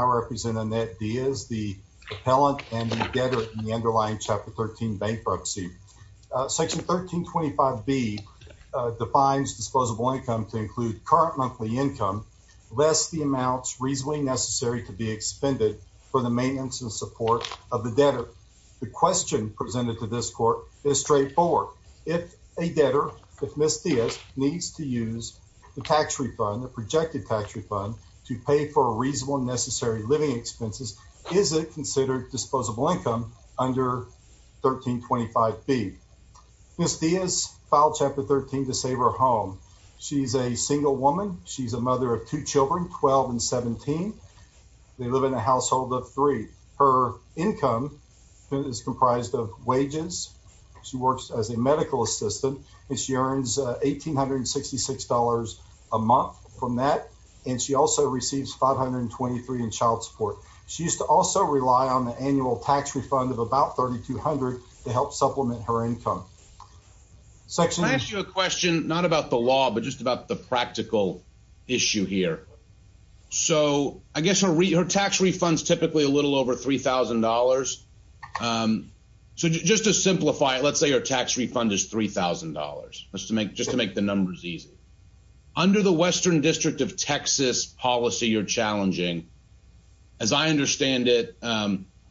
I represent Annette Diaz, the appellant and the debtor in the underlying Chapter 13 Bank Proxy. Section 1325B defines disposable income to include current monthly income, lest the amounts reasonably necessary to be expended for the maintenance and support of the debtor. The question presented to this court is straightforward. If a debtor, if Ms. Diaz, needs to use the living expenses, is it considered disposable income under 1325B? Ms. Diaz filed Chapter 13 to save her home. She's a single woman. She's a mother of two children, 12 and 17. They live in a household of three. Her income is comprised of wages. She works as a medical assistant and earns $1,866 a month from that, and she also receives $523 in child support. She used to also rely on the annual tax refund of about $3,200 to help supplement her income. I'm going to ask you a question, not about the law, but just about the practical issue here. So I guess her tax refund is typically a little over $3,000. So just to simplify it, let's say her tax refund is $3,000, just to make the numbers easy. Under the Western District of Texas policy you're challenging, as I understand it,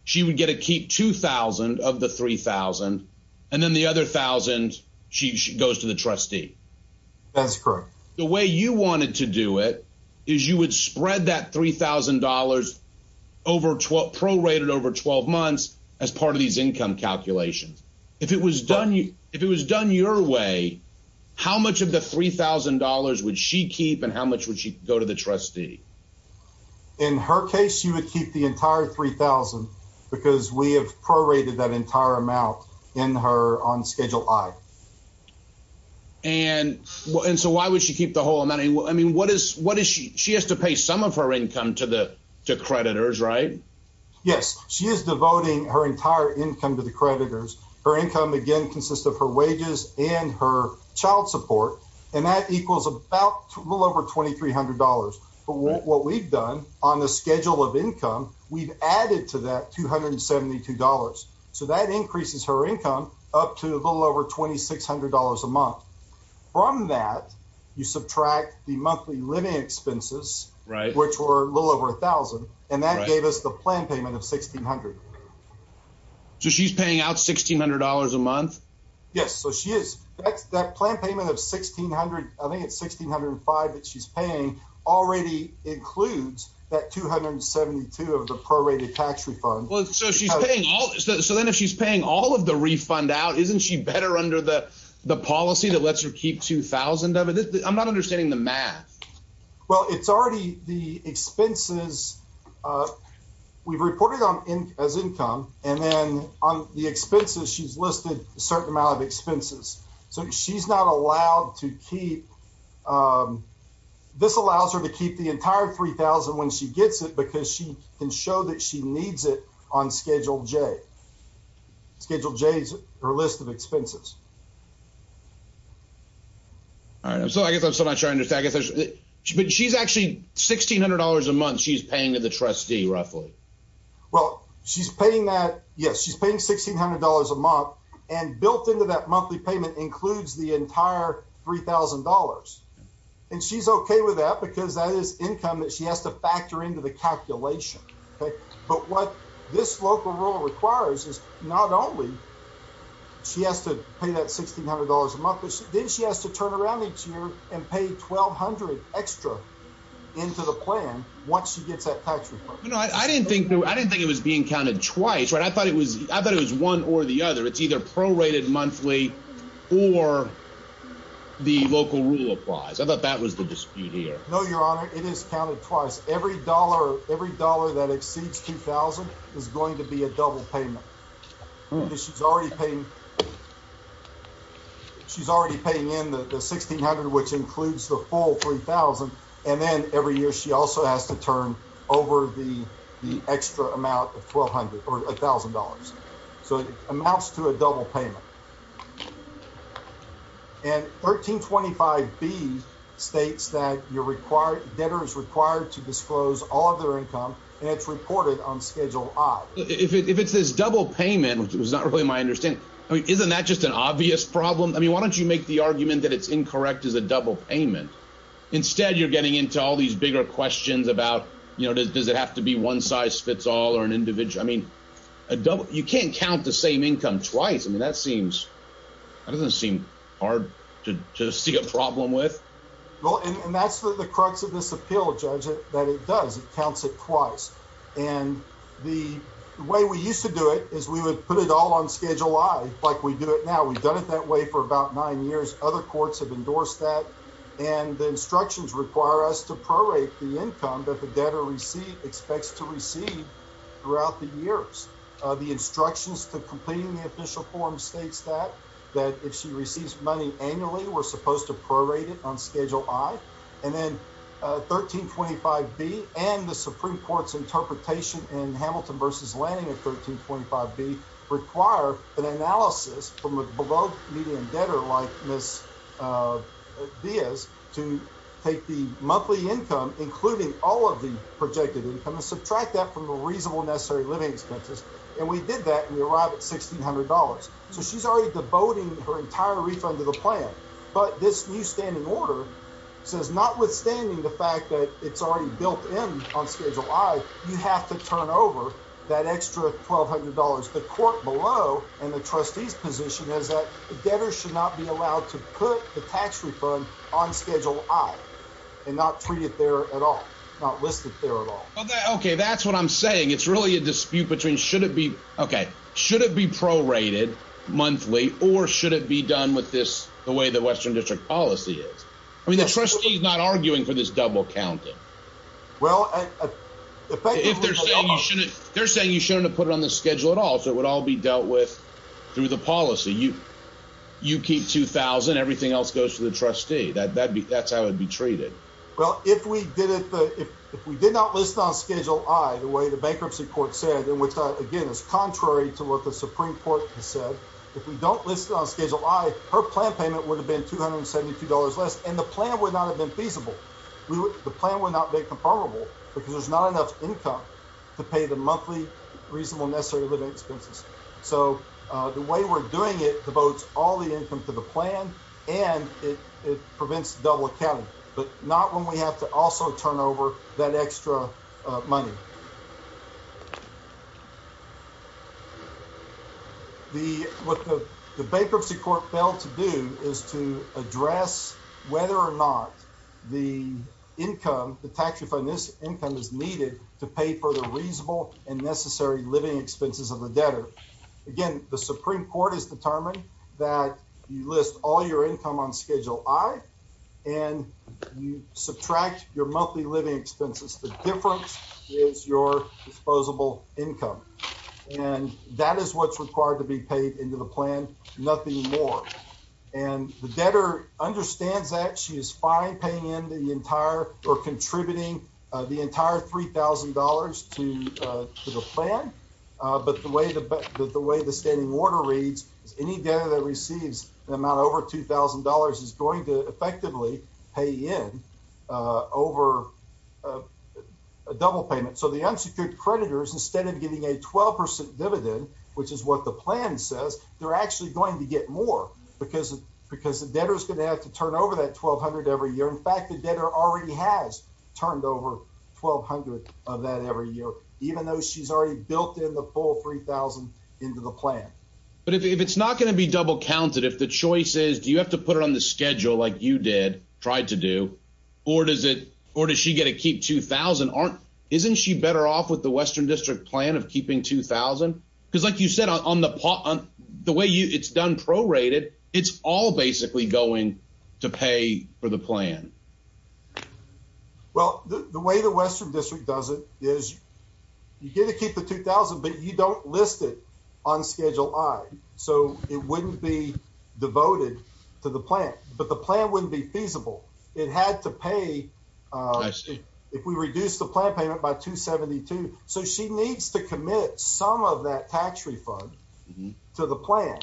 she would get to keep $2,000 of the $3,000, and then the other $1,000 goes to the trustee. That's correct. The way you wanted to do it is you would spread that $3,000 prorated over 12 months as part of these income calculations. If it was done your way, how much of the $3,000 would she keep and how much would she go to the trustee? In her case, she would keep the entire $3,000 because we have prorated that entire amount on Schedule I. And so why would she keep the whole amount? She has to pay some of her income to creditors, right? Yes. She is devoting her entire income to the creditors. Her income, again, consists of her wages and her child support, and that equals a little over $2,300. But what we've done on the Schedule of Income, we've added to that $272. So that increases her income up to a little over $2,600 a month. From that, you subtract the monthly living expenses, which were a little over $1,000, and that gave us the plan payment of $1,600. So she's paying out $1,600 a month? Yes, so she is. That plan payment of $1,600, I think it's $1,605 that she's paying, already includes that $272 of the prorated tax refund. So then if she's paying all of the refund out, isn't she better under the policy that lets her keep $2,000 of it? I'm not understanding the math. Well, it's already the expenses. We've reported as income, and then on the expenses, she's listed a certain amount of expenses. So she's not allowed to keep, this allows her to keep the entire $3,000 when she gets it, because she can show that she needs it on Schedule J. Schedule J is her list of expenses. All right, so I guess I'm still not trying to understand. But she's actually, $1,600 a month she's paying to the trustee, roughly? Well, she's paying that, yes, she's paying $1,600 a month, and built into that monthly payment includes the entire $3,000. And she's okay with that, because that is income that she has to factor into the calculation. But what this local rule requires is not only she has to pay that $1,600 a month, but then she has to turn around each year and pay $1,200 extra into the plan once she gets that tax refund. No, I didn't think it was being counted twice. I thought it was one or the other. It's either prorated monthly or the local rule applies. I thought that was the dispute here. No, Your Honor, it is counted twice. Every dollar that exceeds $2,000 is going to be a double payment. She's already paying in the $1,600, which includes the full $3,000. And then every year she also has to turn over the extra amount of $1,200 or $1,000. So it amounts to a double payment. And 1325B states that debtor is required to disclose all of their income, and it's reported on Schedule I. If it's this double payment, which was not really my understanding, isn't that just an obvious problem? I mean, why don't you make the argument that it's incorrect as a double payment? Instead, you're getting into all these bigger questions about, you know, does it have to be one size fits all or an individual? I mean, you can't count the same income twice. I mean, that doesn't seem hard to see a problem with. Well, and that's the crux of this appeal, Judge, that it does. It counts it twice. And the way we used to do it is we would put it all on Schedule I like we do it now. We've done it that way for nine years. Other courts have endorsed that. And the instructions require us to prorate the income that the debtor expects to receive throughout the years. The instructions to completing the official form states that if she receives money annually, we're supposed to prorate it on Schedule I. And then 1325B and the Supreme Court's interpretation in Hamilton v. Lanning of 1325B require an analysis from a below-median debtor like Ms. Diaz to take the monthly income, including all of the projected income, and subtract that from the reasonable necessary living expenses. And we did that, and we arrived at $1,600. So she's already devoting her entire refund to the plan. But this new standing order says notwithstanding the fact that it's already below, and the trustee's position is that the debtor should not be allowed to put the tax refund on Schedule I and not treat it there at all, not list it there at all. Okay, that's what I'm saying. It's really a dispute between should it be prorated monthly or should it be done with this the way the Western District policy is. I mean, the trustee's not arguing for this double counting. Well, effectively, they're saying you shouldn't have put it on the schedule at all, it would all be dealt with through the policy. You keep $2,000, everything else goes to the trustee. That's how it would be treated. Well, if we did not list it on Schedule I, the way the bankruptcy court said, and which, again, is contrary to what the Supreme Court said, if we don't list it on Schedule I, her plan payment would have been $272 less, and the plan would not have been feasible. The plan would not have been comparable because there's not enough income to pay the monthly reasonable necessary living expenses. So the way we're doing it devotes all the income to the plan, and it prevents double accounting, but not when we have to also turn over that extra money. What the bankruptcy court failed to do is to address whether or not the income, the tax refund, this income is needed to pay for the reasonable and necessary living expenses of the debtor. Again, the Supreme Court has determined that you list all your income on Schedule I, and you subtract your monthly living expenses. The difference is your disposable income, and that is what's required to be paid into the plan, nothing more. And the debtor understands that she is fine paying into the entire or contributing the entire $3,000 to the plan, but the way the standing order reads is any debtor that receives an amount over $2,000 is going to effectively pay in over a double payment. So the unsecured creditors, instead of getting a 12% dividend, which is what the plan says, they're actually going to get more because the debtor is going to have to turn over that $1,200 every year. In fact, the debtor already has turned over $1,200 of that every year, even though she's already built in the full $3,000 into the plan. But if it's not going to be double counted, if the choice is do you have to put it on the schedule like you did, tried to do, or does she get to keep $2,000, isn't she better off with it? It's all basically going to pay for the plan. Well, the way the Western District does it is you get to keep the $2,000, but you don't list it on Schedule I. So it wouldn't be devoted to the plan, but the plan wouldn't be feasible. It had to pay if we reduce the plan payment by $272. So she needs to commit some of that tax refund to the plan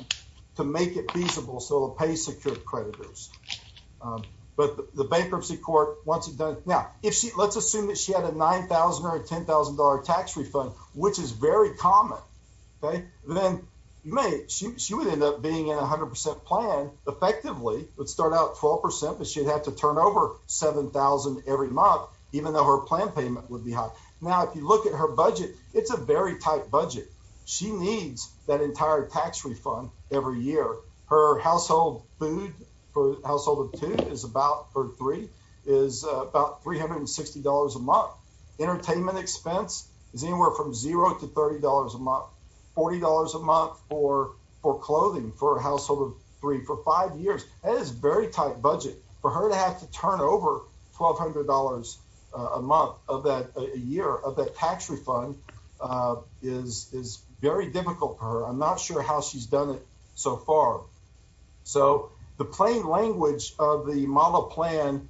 to make it feasible so it'll pay secured creditors. But the bankruptcy court, once it's done... Now, let's assume that she had a $9,000 or a $10,000 tax refund, which is very common. Then she would end up being in a 100% plan, effectively, would start out 12%, but she'd have to turn over $7,000 every month, even though her plan payment would be high. Now, if you look at her budget, it's a very tight budget. She needs that entire tax refund every year. Her household food for a household of two or three is about $360 a month. Entertainment expense is anywhere from $0 to $30 a month, $40 a month for clothing for a household of three for five years. That is a very tight budget for her to have to turn over $1,200 a month, a year, of that tax refund is very difficult for her. I'm not sure how she's done it so far. So the plain language of the model plan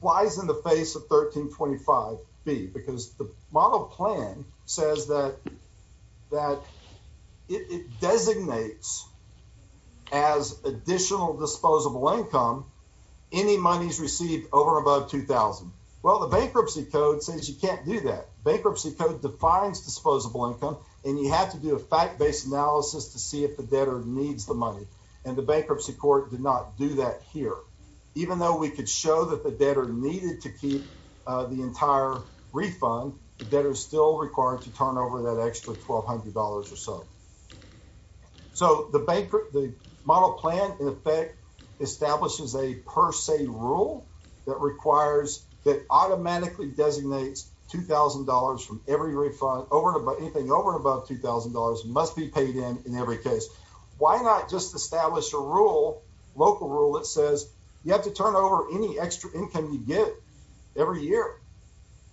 lies in the face of 1325B, because the model plan says that it designates as additional disposable income any monies received over or above $2,000. Well, the bankruptcy code says you can't do that. Bankruptcy code defines disposable income, and you have to do a fact-based analysis to see if the debtor needs the money, and the bankruptcy court did not do that here. Even though we could show that the debtor needed to keep the entire refund, the debtor is still required to turn over that extra $1,200 or so. So the bank, the model plan in effect establishes a per se rule that requires, that automatically designates $2,000 from every refund over and above, anything over and above $2,000 must be paid in in every case. Why not just establish a rule, local rule that says you have to turn over any extra income you get every year?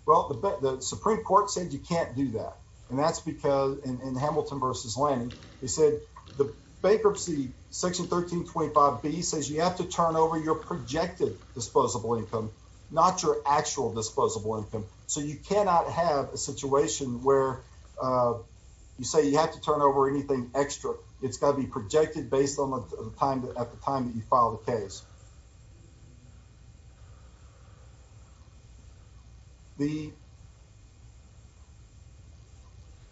Well, the Supreme Court said you can't do that, and that's because in Hamilton v. Lanning, they said the bankruptcy section 1325B says you have to turn over your projected disposable income, not your actual disposable income. So you cannot have a situation where you say you have to turn over anything extra. It's got to be the,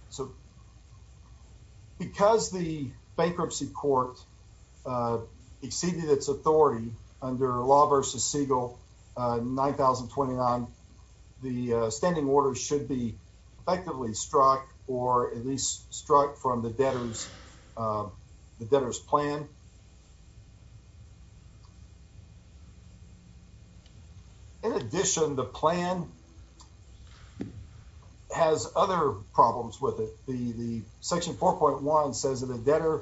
so because the bankruptcy court exceeded its authority under Law v. Segal 9029, the standing order should be effectively struck, or at least struck from the debtor's plan. In addition, the plan has other problems with it. The section 4.1 says that the debtor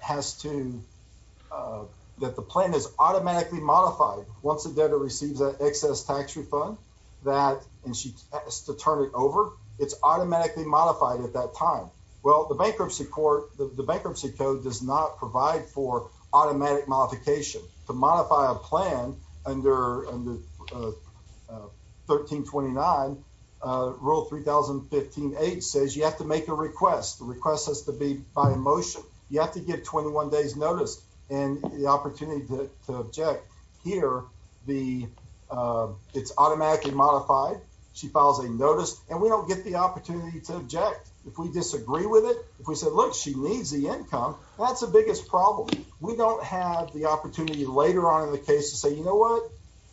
has to, that the plan is automatically modified once the debtor receives that excess tax refund, that, and she has to turn it over, it's automatically modified at that time. Well, the bankruptcy court, the bankruptcy code does not provide for automatic modification. To modify a plan under 1329, Rule 3015.8 says you have to make a request. The request has to be by a motion. You have to get 21 days notice and the opportunity to object. Here, the, it's automatically modified. She files a notice, and we don't get the opportunity to object. If we disagree with it, if we said, look, she needs the income, that's the biggest problem. We don't have the opportunity later on in the case to say, you know what,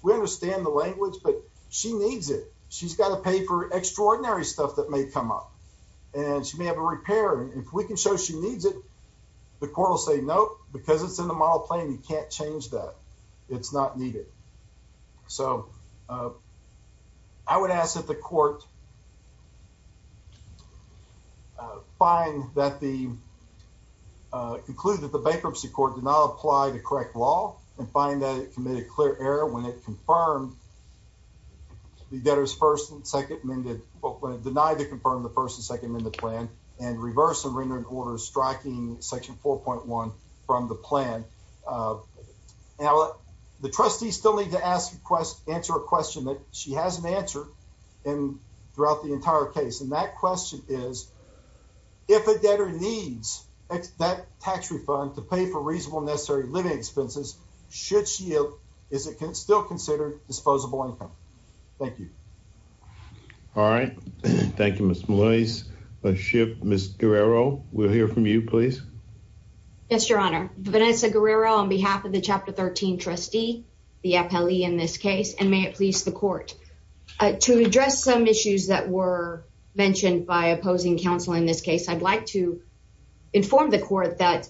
we understand the language, but she needs it. She's got to pay for extraordinary stuff that may come up, and she may have a repair. If we can show she needs it, the court will say, nope, because it's in the model plan, you can't change that. It's not needed. So I would ask that the find that the, conclude that the bankruptcy court did not apply the correct law and find that it committed clear error when it confirmed the debtor's first and second amended, when it denied to confirm the first and second amended plan, and reverse and render an order striking section 4.1 from the plan. Now, the trustees still need to ask, answer a question that she hasn't answered in, throughout the entire case, and that question is, if a debtor needs that tax refund to pay for reasonable necessary living expenses, should she, is it still considered disposable income? Thank you. All right. Thank you, Ms. Moise. Ms. Guerrero, we'll hear from you, please. Yes, your honor. Vanessa Guerrero on behalf of the Chapter 13 trustee, the appellee in this case, and may it please the court, to address some issues that were mentioned by opposing counsel in this case, I'd like to inform the court that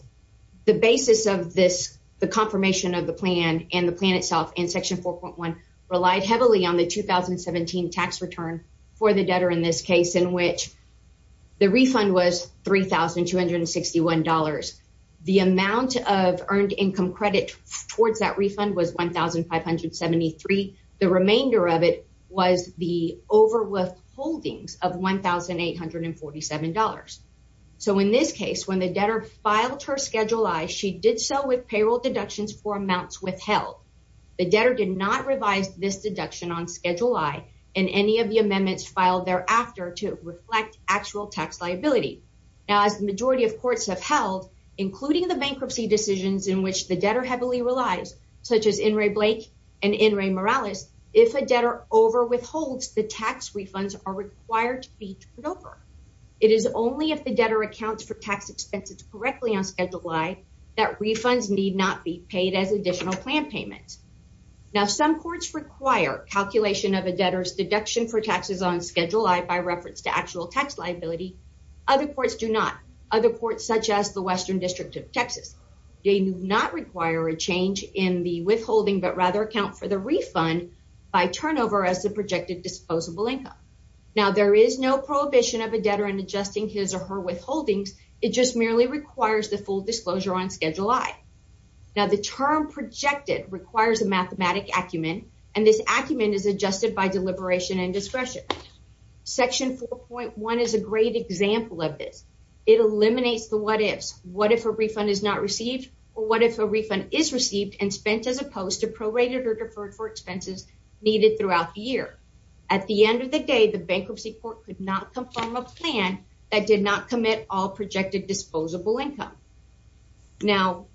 the basis of this, the confirmation of the plan and the plan itself in section 4.1 relied heavily on the 2017 tax return for the debtor in this case, in which the refund was $3,261. The amount of earned income credit towards that refund was $1,573. The remainder of it was the over withholdings of $1,847. So, in this case, when the debtor filed her Schedule I, she did so with payroll deductions for amounts withheld. The debtor did not revise this deduction on Schedule I and any of the amendments filed thereafter to reflect actual tax liability. Now, as the majority of courts have held, including the bankruptcy decisions in which the debtor heavily relies, such as In re Blake and In re Morales, if a debtor over withholds, the tax refunds are required to be turned over. It is only if the debtor accounts for tax expenses correctly on Schedule I that refunds need not be paid as additional plan payments. Now, some courts require calculation of a debtor's deduction for taxes on Schedule I by reference to actual tax liability. Other courts do not. Other courts, such as the Western District of Texas, do not require a change in the withholding, but rather account for the refund by turnover as the projected disposable income. Now, there is no prohibition of a debtor in adjusting his or her withholdings. It just merely requires the full disclosure on Schedule I. Now, the term projected requires a mathematic acumen, and this acumen is adjusted by deliberation and discretion. Section 4.1 is a great example of this. It eliminates the what-ifs. What if a refund is not received, or what if a refund is received and spent as opposed to prorated or deferred for expenses needed throughout the year? At the end of the day, the bankruptcy court could not confirm a plan that did not commit all projected disposable income. Now,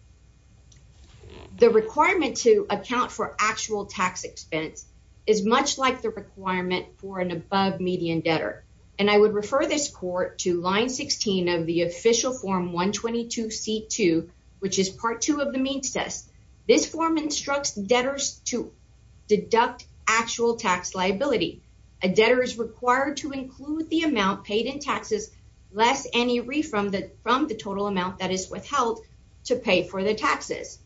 the requirement to account for actual tax expense is much like the requirement for an above median debtor, and I would refer this court to Line 16 of the Official Form 122C2, which is Part 2 of the Means Test. This form instructs debtors to deduct actual tax liability. A debtor is to pay for the taxes.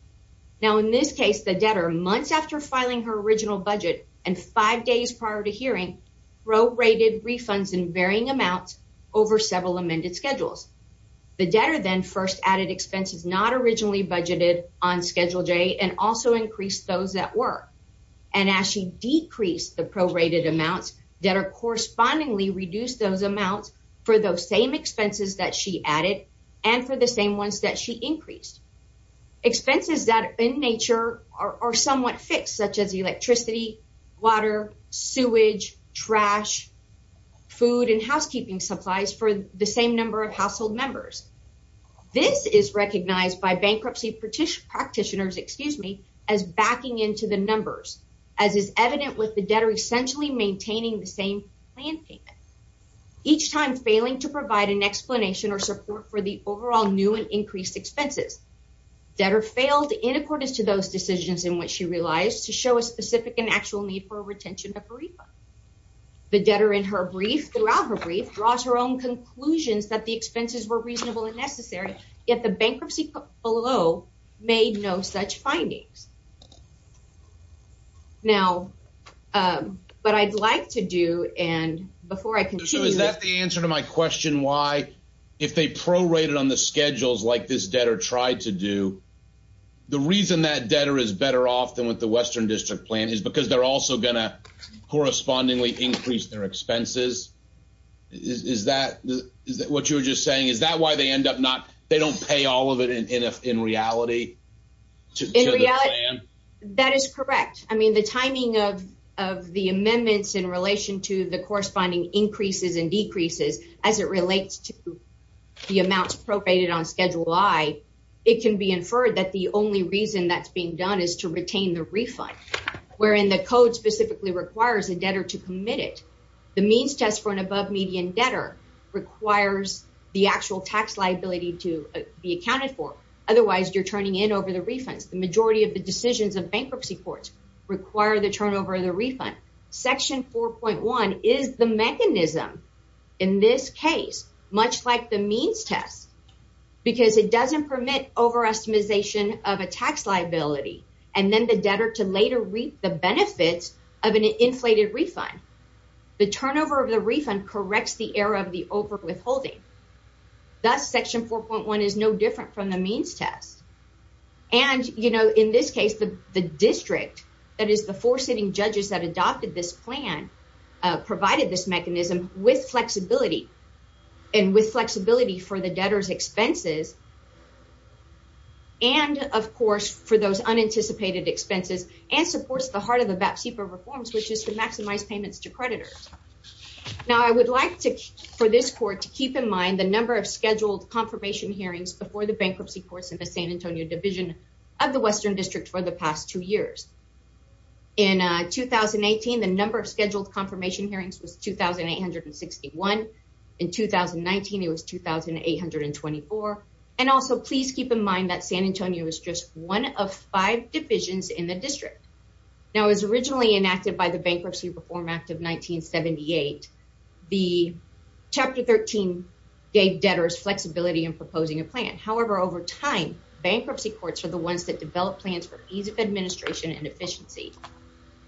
Now, in this case, the debtor, months after filing her original budget and five days prior to hearing, prorated refunds in varying amounts over several amended schedules. The debtor then first added expenses not originally budgeted on Schedule J and also increased those that were, and as she decreased the prorated amounts, debtor correspondingly and for the same ones that she increased. Expenses that in nature are somewhat fixed, such as electricity, water, sewage, trash, food, and housekeeping supplies for the same number of household members. This is recognized by bankruptcy practitioners, excuse me, as backing into the numbers, as is evident with the debtor essentially maintaining the same plan payment, each time failing to provide an explanation or support for the overall new and increased expenses. Debtor failed in accordance to those decisions in which she realized to show a specific and actual need for a retention of a refund. The debtor in her brief, throughout her brief, draws her own conclusions that the expenses were reasonable and necessary, yet the bankruptcy below made no such findings. Now, what I'd like to do, and before I continue... So, is that the answer to my question? Why, if they prorated on the schedules like this debtor tried to do, the reason that debtor is better off than with the Western District plan is because they're also going to correspondingly increase their expenses? Is that what you were just saying? Is that why they end up not, they don't pay all of it in reality? That is correct. I mean, the timing of the amendments in relation to the corresponding increases and decreases, as it relates to the amounts prorated on Schedule I, it can be inferred that the only reason that's being done is to retain the refund, wherein the code specifically requires a debtor to commit it. The means test for an above-median debtor requires the actual tax liability to be accounted for. Otherwise, you're turning in over the refunds. The majority of the decisions of bankruptcy courts require the turnover of the refund. Section 4.1 is the mechanism in this case, much like the means test, because it doesn't permit overestimation of a tax liability, and then the debtor to later reap the benefits of an inflated refund. The turnover of the refund corrects the error of the over-withholding. Thus, Section 4.1 is no different from the means test. And, you know, in this case, the District, that is the four sitting judges that adopted this plan, provided this mechanism with flexibility, and with flexibility for the debtor's expenses, and, of course, for those unanticipated expenses, and supports the heart of the VAP-CEPA reforms, which is to maximize payments to creditors. Now, I would like for this Court to keep in mind the number of scheduled confirmation hearings before the bankruptcy courts in the San Antonio Division of the Western District for the past two years. In 2018, the number of scheduled confirmation hearings was 2,861. In 2019, it was 2,824. And also, please keep in mind that San Antonio is just one of five divisions in the District. Now, it was originally enacted by the Bankruptcy Reform Act of 1978. Chapter 13 gave debtors flexibility in proposing a plan. However, over time, bankruptcy courts are the ones that develop plans for ease of administration and efficiency.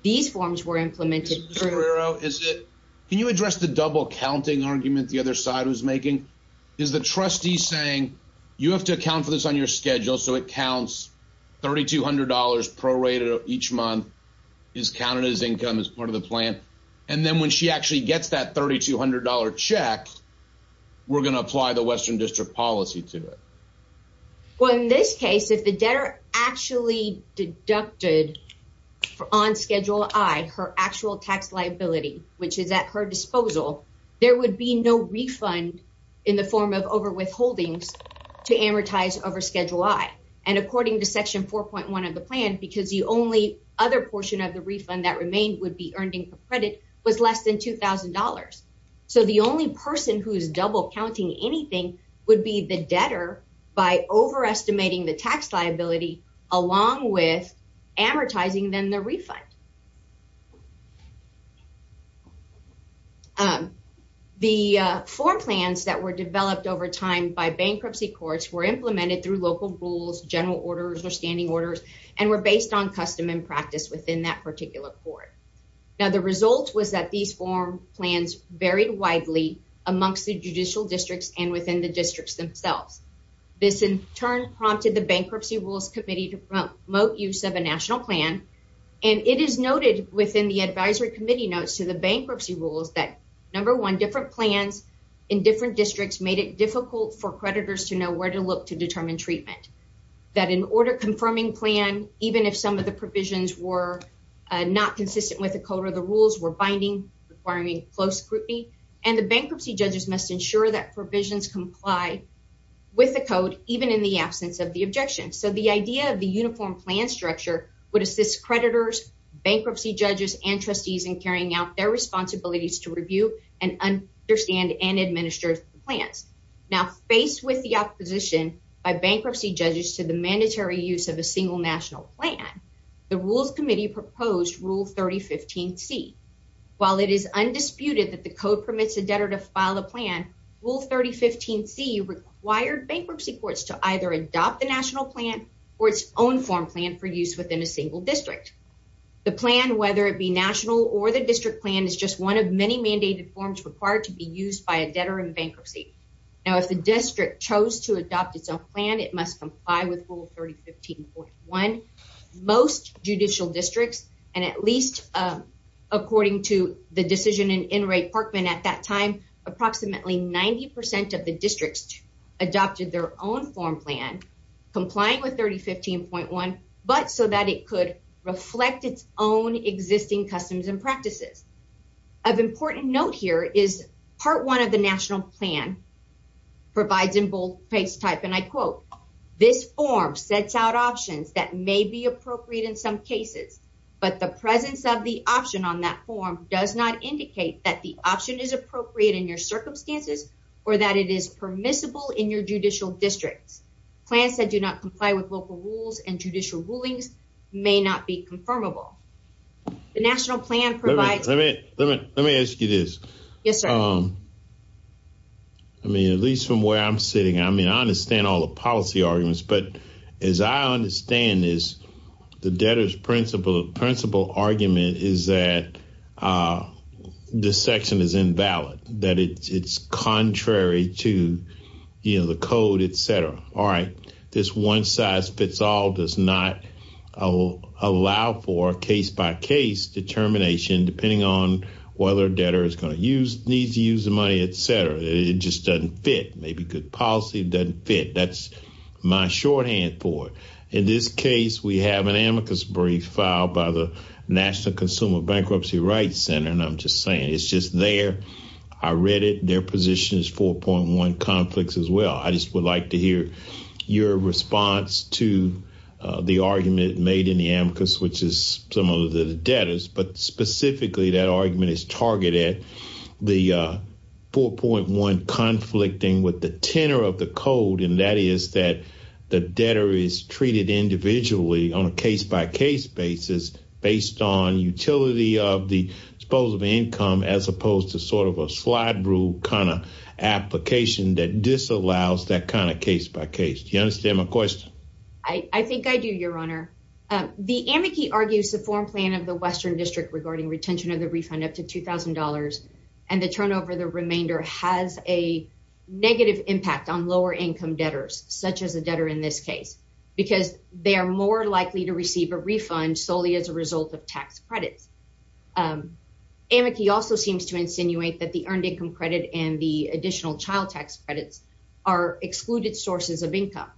These forms were developed by the Bankruptcy Reform Act of 1978. So, can you address the double-counting argument the other side was making? Is the trustee saying, you have to account for this on your schedule, so it counts $3,200 prorated each month, is counted as income as part of the plan, and then when she actually gets that $3,200 check, we're going to apply the Western District policy to it? Well, in this case, if the debtor actually deducted on Schedule I her actual tax liability, which is at her disposal, there would be no refund in the form of overwithholdings to amortize over Schedule I. And according to Section 4.1 of the plan, because the only other portion of the refund that remained would be earned income credit, was less than $2,000. So, the only person who's double-counting anything would be the debtor by overestimating the tax liability, along with amortizing then the refund. The form plans that were developed over time by bankruptcy courts were implemented through local rules, general orders, or standing orders, and were based on custom and practice within that particular court. Now, the result was that these form plans varied widely amongst the districts themselves. This, in turn, prompted the Bankruptcy Rules Committee to promote use of a national plan. And it is noted within the Advisory Committee notes to the bankruptcy rules that, number one, different plans in different districts made it difficult for creditors to know where to look to determine treatment. That an order-confirming plan, even if some of the provisions were not consistent with the code or the rules, were binding, requiring close scrutiny, and the bankruptcy judges must ensure that provisions comply with the code, even in the absence of the objection. So, the idea of the uniform plan structure would assist creditors, bankruptcy judges, and trustees in carrying out their responsibilities to review and understand and administer the plans. Now, faced with the opposition by bankruptcy judges to the mandatory use of a single national plan, the Rules Committee proposed Rule 3015C. While it is undisputed that the code permits a debtor to file a plan, Rule 3015C required bankruptcy courts to either adopt the national plan or its own form plan for use within a single district. The plan, whether it be national or the district plan, is just one of many mandated forms required to be used by a debtor in bankruptcy. Now, if the district chose to adopt its own plan, it must comply with Rule 3015.1. Most judicial districts, and at least according to the decision in Inouye-Parkman at that time, approximately 90% of the districts adopted their own form plan, complying with 3015.1, but so that it could reflect its own existing customs and practices. Of important note here is part one of the national plan provides in bold face type, and I quote, this form sets out options that may be appropriate in some cases, but the presence of the option on that form does not indicate that the option is appropriate in your circumstances or that it is permissible in your judicial districts. Plans that do not comply with local rules and judicial rulings may not be confirmable. The national plan provides... Let me ask you this. Yes, sir. I mean, at least from where I'm sitting, I mean, I understand all the policy arguments, but as I understand this, the debtor's principle argument is that this section is invalid, that it's contrary to, you know, the code, etc. All right, this one size fits all does not allow for case-by-case determination, depending on whether debtor is going to use, needs to use the money, etc. It just doesn't fit. Maybe good policy doesn't fit. That's my shorthand for it. In this case, we have an amicus brief filed by the National Consumer Bankruptcy Rights Center, and I'm just saying it's just there. I read it. Their position is 4.1 conflicts as well. I just would like to hear your response to the argument made in the amicus, which is similar to the debtors, but specifically that argument is targeted at the 4.1 conflicting with the tenor of the code, and that is that the debtor is treated individually on a case-by-case basis based on utility of the disposable income as opposed to sort of a slide rule kind of application that disallows that kind of case-by-case. Do you understand my question? I think I do, Your Honor. The amici argues the foreign plan of the Western District regarding retention of the refund up to $2,000 and the turnover the remainder has a negative impact on lower income debtors, such a debtor in this case, because they are more likely to receive a refund solely as a result of tax credits. Amici also seems to insinuate that the earned income credit and the additional child tax credits are excluded sources of income.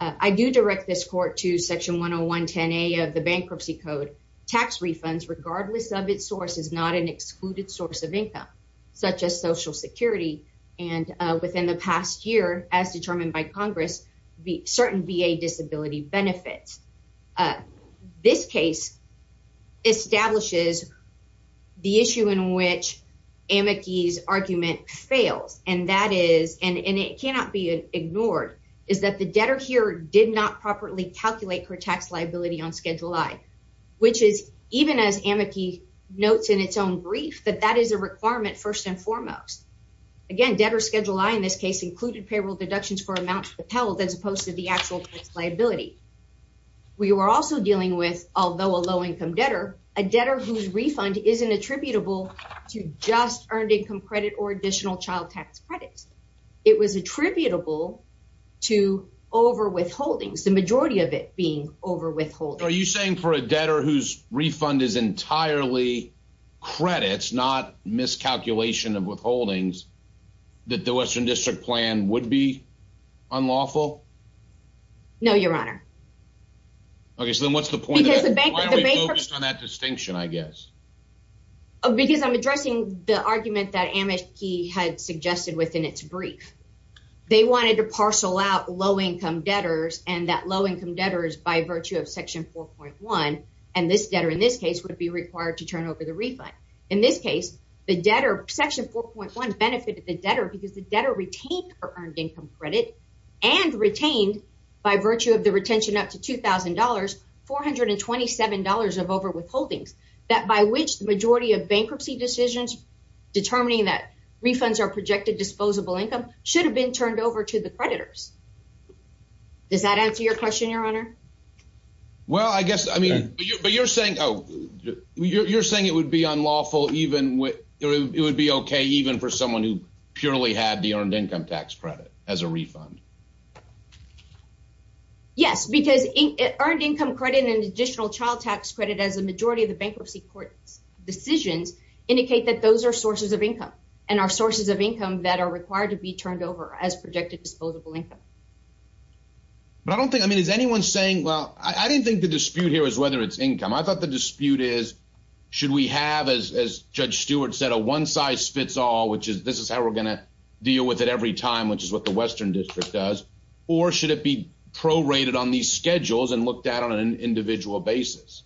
I do direct this court to Section 10110A of the Bankruptcy Code. Tax refunds, regardless of its source, is not an excluded source of income, such as Social Security, and within the past year, as determined by Congress, certain VA disability benefits. This case establishes the issue in which amici's argument fails, and that is, and it cannot be ignored, is that the debtor here did not properly calculate her tax liability on Schedule I, which is even as amici notes in its own brief that that is a requirement first and foremost. Again, debtor Schedule I in this case included payroll deductions for amounts propelled as opposed to the actual tax liability. We were also dealing with, although a low-income debtor, a debtor whose refund isn't attributable to just earned income credit or additional child tax credits. It was attributable to overwithholdings, the majority of it being overwithholdings. Are you saying for a debtor whose refund is entirely credits, not miscalculation of withholdings, that the Western District Plan would be unlawful? No, Your Honor. Okay, so then what's the point of that distinction, I guess? Because I'm addressing the argument that amici had suggested within its brief. They wanted to parcel out low-income debtors and that low-income debtors by virtue of Section 4.1, and this debtor in this case would be required to turn over the refund. In this case, the debtor, Section 4.1 benefited the debtor because the debtor retained her earned income credit and retained by virtue of the retention up to $2,000, $427 of overwithholdings, that by which the majority of bankruptcy decisions determining that refunds are should have been turned over to the creditors. Does that answer your question, Your Honor? Well, I guess, I mean, but you're saying, oh, you're saying it would be unlawful even with, it would be okay even for someone who purely had the earned income tax credit as a refund. Yes, because earned income credit and additional child tax credit as a majority of the bankruptcy decisions indicate that those are sources of income and are sources of income that are required to be turned over as projected disposable income. But I don't think, I mean, is anyone saying, well, I didn't think the dispute here is whether it's income. I thought the dispute is, should we have, as Judge Stewart said, a one-size-fits-all, which is, this is how we're going to deal with it every time, which is what the Western District does, or should it be prorated on these schedules and looked at on an individual basis?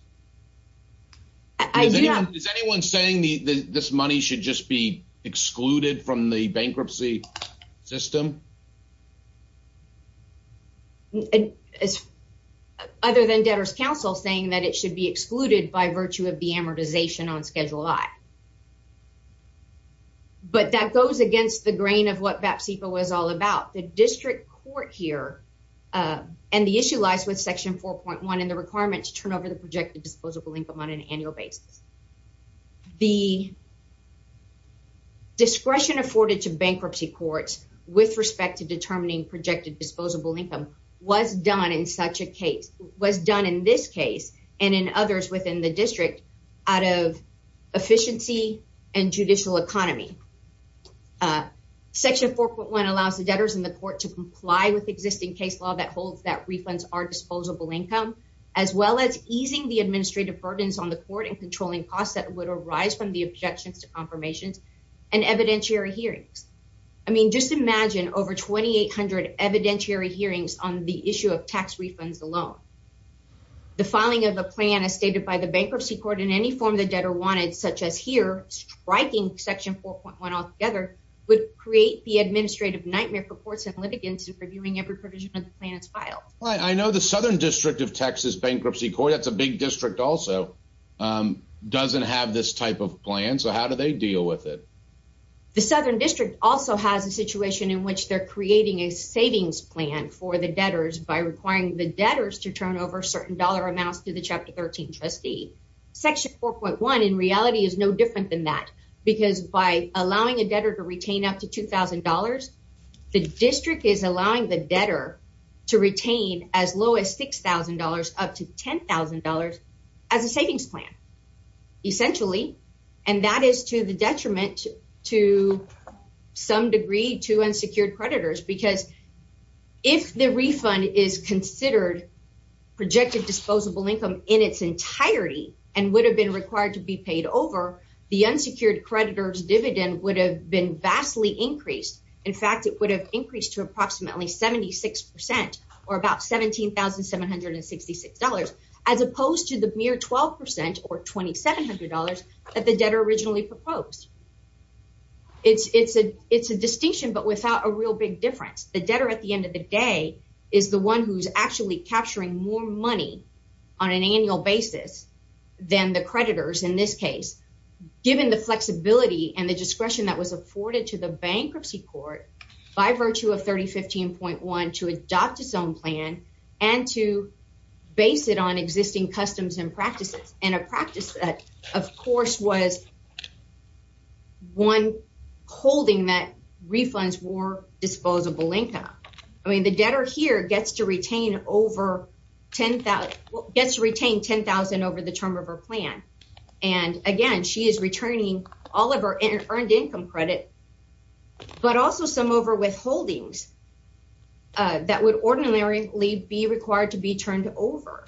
Is anyone saying that this money should just be excluded from the bankruptcy system? Other than debtor's counsel saying that it should be excluded by virtue of the amortization on Schedule I. But that goes against the grain of what BAP SIPA was all about. The district court here, and the issue lies with Section 4.1 and the requirement to turn over the projected disposable income on an annual basis. The discretion afforded to bankruptcy courts with respect to determining projected disposable income was done in such a case, was done in this case, and in others within the district, out of efficiency and judicial economy. Section 4.1 allows the debtors in the court to comply with existing case law that holds that refunds are disposable income, as well as easing the costs that would arise from the objections to confirmations and evidentiary hearings. I mean, just imagine over 2,800 evidentiary hearings on the issue of tax refunds alone. The filing of a plan as stated by the bankruptcy court in any form the debtor wanted, such as here, striking Section 4.1 altogether, would create the administrative nightmare for courts and litigants in reviewing every provision of the plan that's filed. I know the Southern District of Texas Bankruptcy Court, that's a big district also, doesn't have this type of plan, so how do they deal with it? The Southern District also has a situation in which they're creating a savings plan for the debtors by requiring the debtors to turn over certain dollar amounts to the Chapter 13 trustee. Section 4.1 in reality is no different than that, because by allowing a debtor to retain up to $2,000, the district is allowing the debtor to retain as low as $6,000 up to $10,000 as a savings plan, essentially, and that is to the detriment to some degree to unsecured creditors, because if the refund is considered projected disposable income in its entirety and would have been required to be paid over, the unsecured creditor's dividend would have been vastly increased. In fact, it would have increased to approximately 76% or about $17,766, as opposed to the mere 12% or $2,700 that the debtor originally proposed. It's a distinction, but without a real big difference. The debtor at the end of the day is the one who's actually capturing more money on an annual basis than the creditors in this case, given the flexibility and the discretion that was afforded to the bankruptcy court by virtue of 3015.1 to adopt its own plan and to base it on existing customs and practices, and a practice that, of course, was one holding that refunds were disposable income. I mean, debtor here gets to retain 10,000 over the term of her plan, and again, she is returning all of her earned income credit, but also some overwithholdings that would ordinarily be required to be turned over.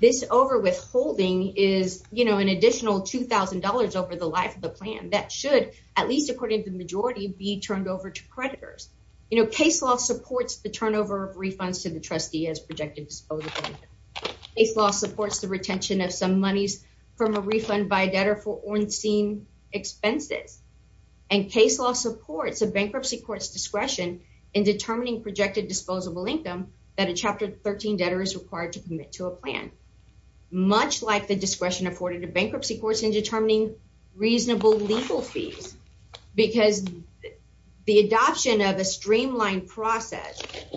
This overwithholding is an additional $2,000 over the life of the plan that should, at least according to the majority, be turned over to refunds to the trustee as projected disposable income. Case law supports the retention of some monies from a refund by a debtor for on-scene expenses, and case law supports a bankruptcy court's discretion in determining projected disposable income that a Chapter 13 debtor is required to commit to a plan, much like the discretion afforded to bankruptcy courts in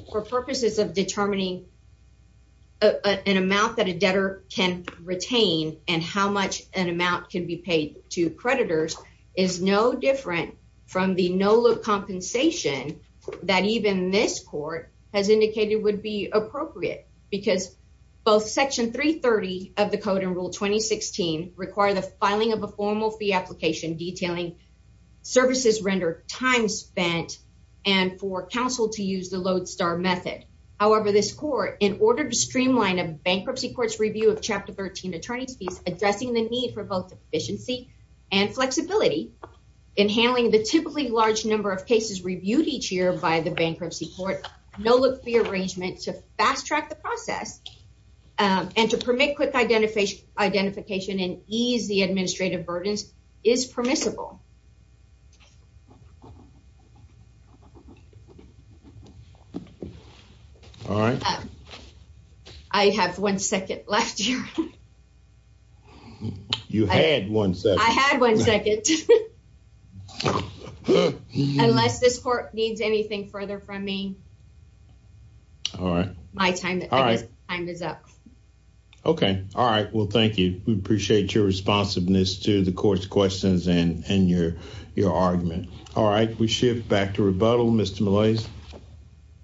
for purposes of determining an amount that a debtor can retain and how much an amount can be paid to creditors is no different from the no-look compensation that even this court has indicated would be appropriate because both Section 330 of the Code and Rule 2016 require the filing of a formal fee application detailing services rendered, time spent, and for counsel to use the Lodestar method. However, this court, in order to streamline a bankruptcy court's review of Chapter 13 attorney's fees, addressing the need for both efficiency and flexibility in handling the typically large number of cases reviewed each year by the bankruptcy court, no-look fee arrangement to fast-track the process and to permit quick identification and ease the administrative burdens is permissible. All right. I have one second left here. You had one second. I had one second. Unless this court needs anything further from me. All right. My time is up. Okay. All right. Well, thank you. We appreciate your responsiveness to the court's questions and your argument. All right. We shift back to rebuttal. Mr. Millais.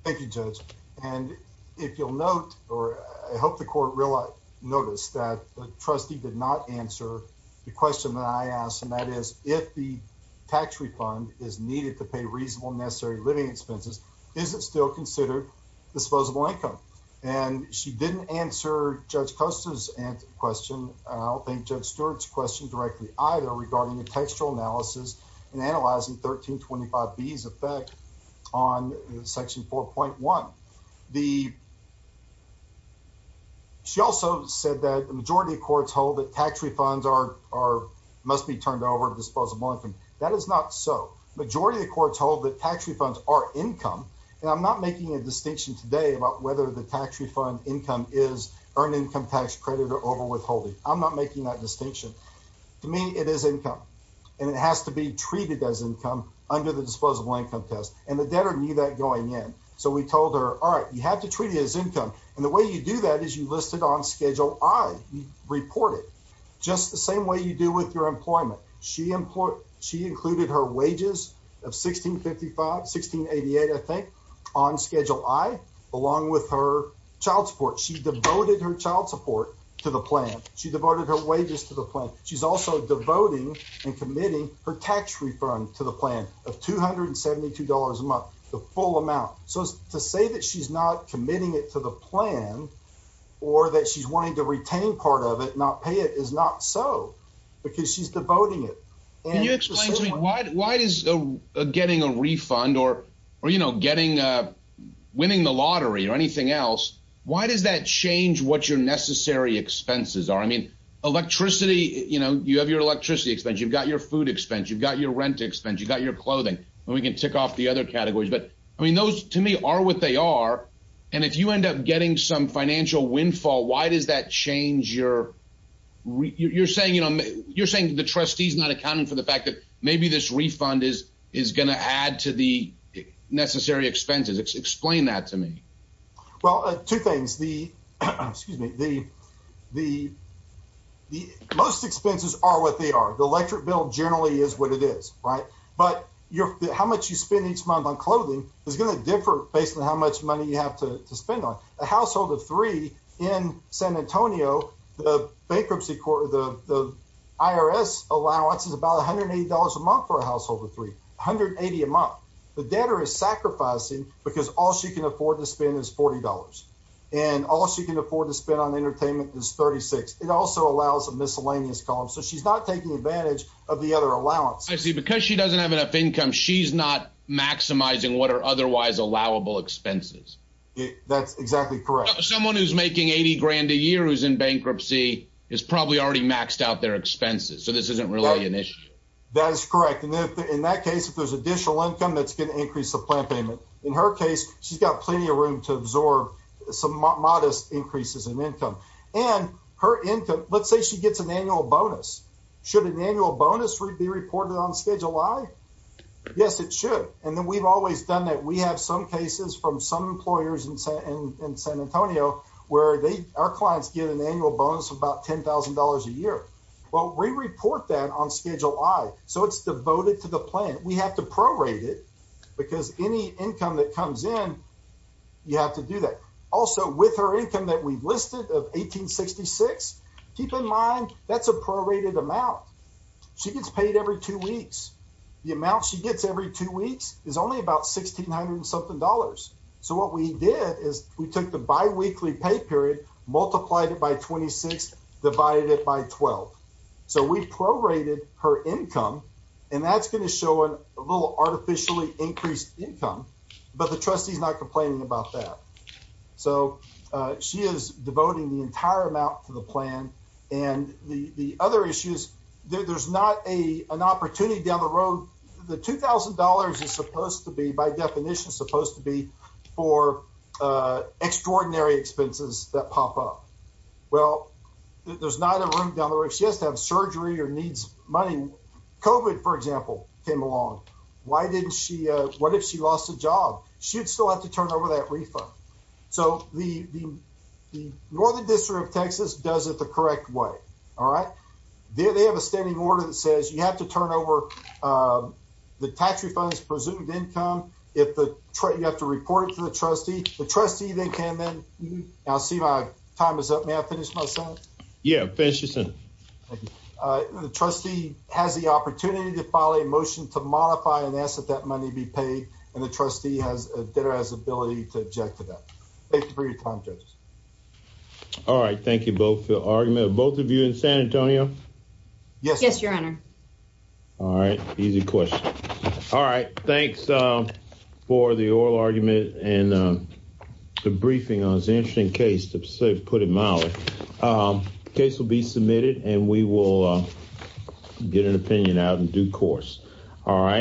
Thank you, Judge. And if you'll note, or I hope the court will notice that the trustee did not answer the question that I asked, and that is, if the tax refund is needed to pay reasonable necessary living expenses, is it still considered disposable income? And she didn't answer Judge Stewart's question directly either regarding the textual analysis and analyzing 1325B's effect on Section 4.1. She also said that the majority of courts hold that tax refunds must be turned over to disposable income. That is not so. The majority of the courts hold that tax refunds are income, and I'm not making a distinction today about whether the tax refund income is earned or not. To me, it is income, and it has to be treated as income under the disposable income test, and the debtor knew that going in. So we told her, all right, you have to treat it as income, and the way you do that is you list it on Schedule I. You report it just the same way you do with your employment. She included her wages of 16.55, 16.88, I think, on Schedule I, along with her child support to the plan. She devoted her wages to the plan. She's also devoting and committing her tax refund to the plan of $272 a month, the full amount. So to say that she's not committing it to the plan or that she's wanting to retain part of it, not pay it, is not so, because she's devoting it. Can you explain to me, why does getting a refund or, you know, winning the lottery or anything else, why does that change what your necessary expenses are? I mean, electricity, you know, you have your electricity expense, you've got your food expense, you've got your rent expense, you've got your clothing, and we can tick off the other categories. But, I mean, those to me are what they are, and if you end up getting some financial windfall, why does that change your – you're saying, you know, you're saying the trustee's not accounting for the fact that maybe this refund is going to add to the necessary expenses. Explain that to me. Well, two things. Most expenses are what they are. The electric bill generally is what it is, right? But how much you spend each month on clothing is going to differ based on how much money you have to spend on. A household of three in San Antonio, the bankruptcy court, the IRS allowance is about $180 a month for a household of three, $180 a month. The debtor is sacrificing because all she can afford to spend is $40, and all she can afford to spend on entertainment is $36. It also allows a miscellaneous column, so she's not taking advantage of the other allowance. I see. Because she doesn't have enough income, she's not maximizing what are otherwise allowable expenses. That's exactly correct. Someone who's making $80,000 a year who's in bankruptcy is probably already maxed out their expenses, so this isn't really an issue. That is correct. In that case, if there's additional income, that's going to increase the plan payment. In her case, she's got plenty of room to absorb some modest increases in income. And her income, let's say she gets an annual bonus. Should an annual bonus be reported on Schedule I? Yes, it should. And then we've always done that. We have some cases from some employers in San Antonio where our clients get an annual bonus of about $10,000 a year. Well, we report that on Schedule I, so it's devoted to the plan. We have to prorate it because any income that comes in, you have to do that. Also, with her income that we've listed of $1,866, keep in mind that's a prorated amount. She gets paid every two weeks. The amount she gets every two weeks is only about $1,600. So what we did is we took the biweekly pay period, multiplied it by 26, divided it by 12. So we prorated her income, and that's going to show a little artificially increased income, but the trustee's not complaining about that. So she is devoting the entire amount to the plan. And the other issue is there's not an opportunity down the road. The $2,000 is supposed to be, by definition, supposed to be for extraordinary expenses that pop up. Well, there's not a room down the road. She has to have surgery or needs money. COVID, for example, came along. What if she lost a job? She'd still have to turn over that refund. So the Northern District of Texas does it the correct way, all right? They have a standing order that says you have to turn over the tax refunds presumed income. You have to report it to the trustee. The trustee then can then—I see my time is up. May I finish my sentence? Yeah, finish your sentence. The trustee has the opportunity to file a motion to modify and ask that that money be paid, and the trustee has the ability to object to that. Thank you for your time, judges. All right, thank you both for your argument. Both of you in San Antonio? Yes, your honor. All right, easy question. All right, thanks for the oral argument and the briefing on this interesting case, to put it mildly. The case will be submitted, and we will get an opinion out in due course, all right?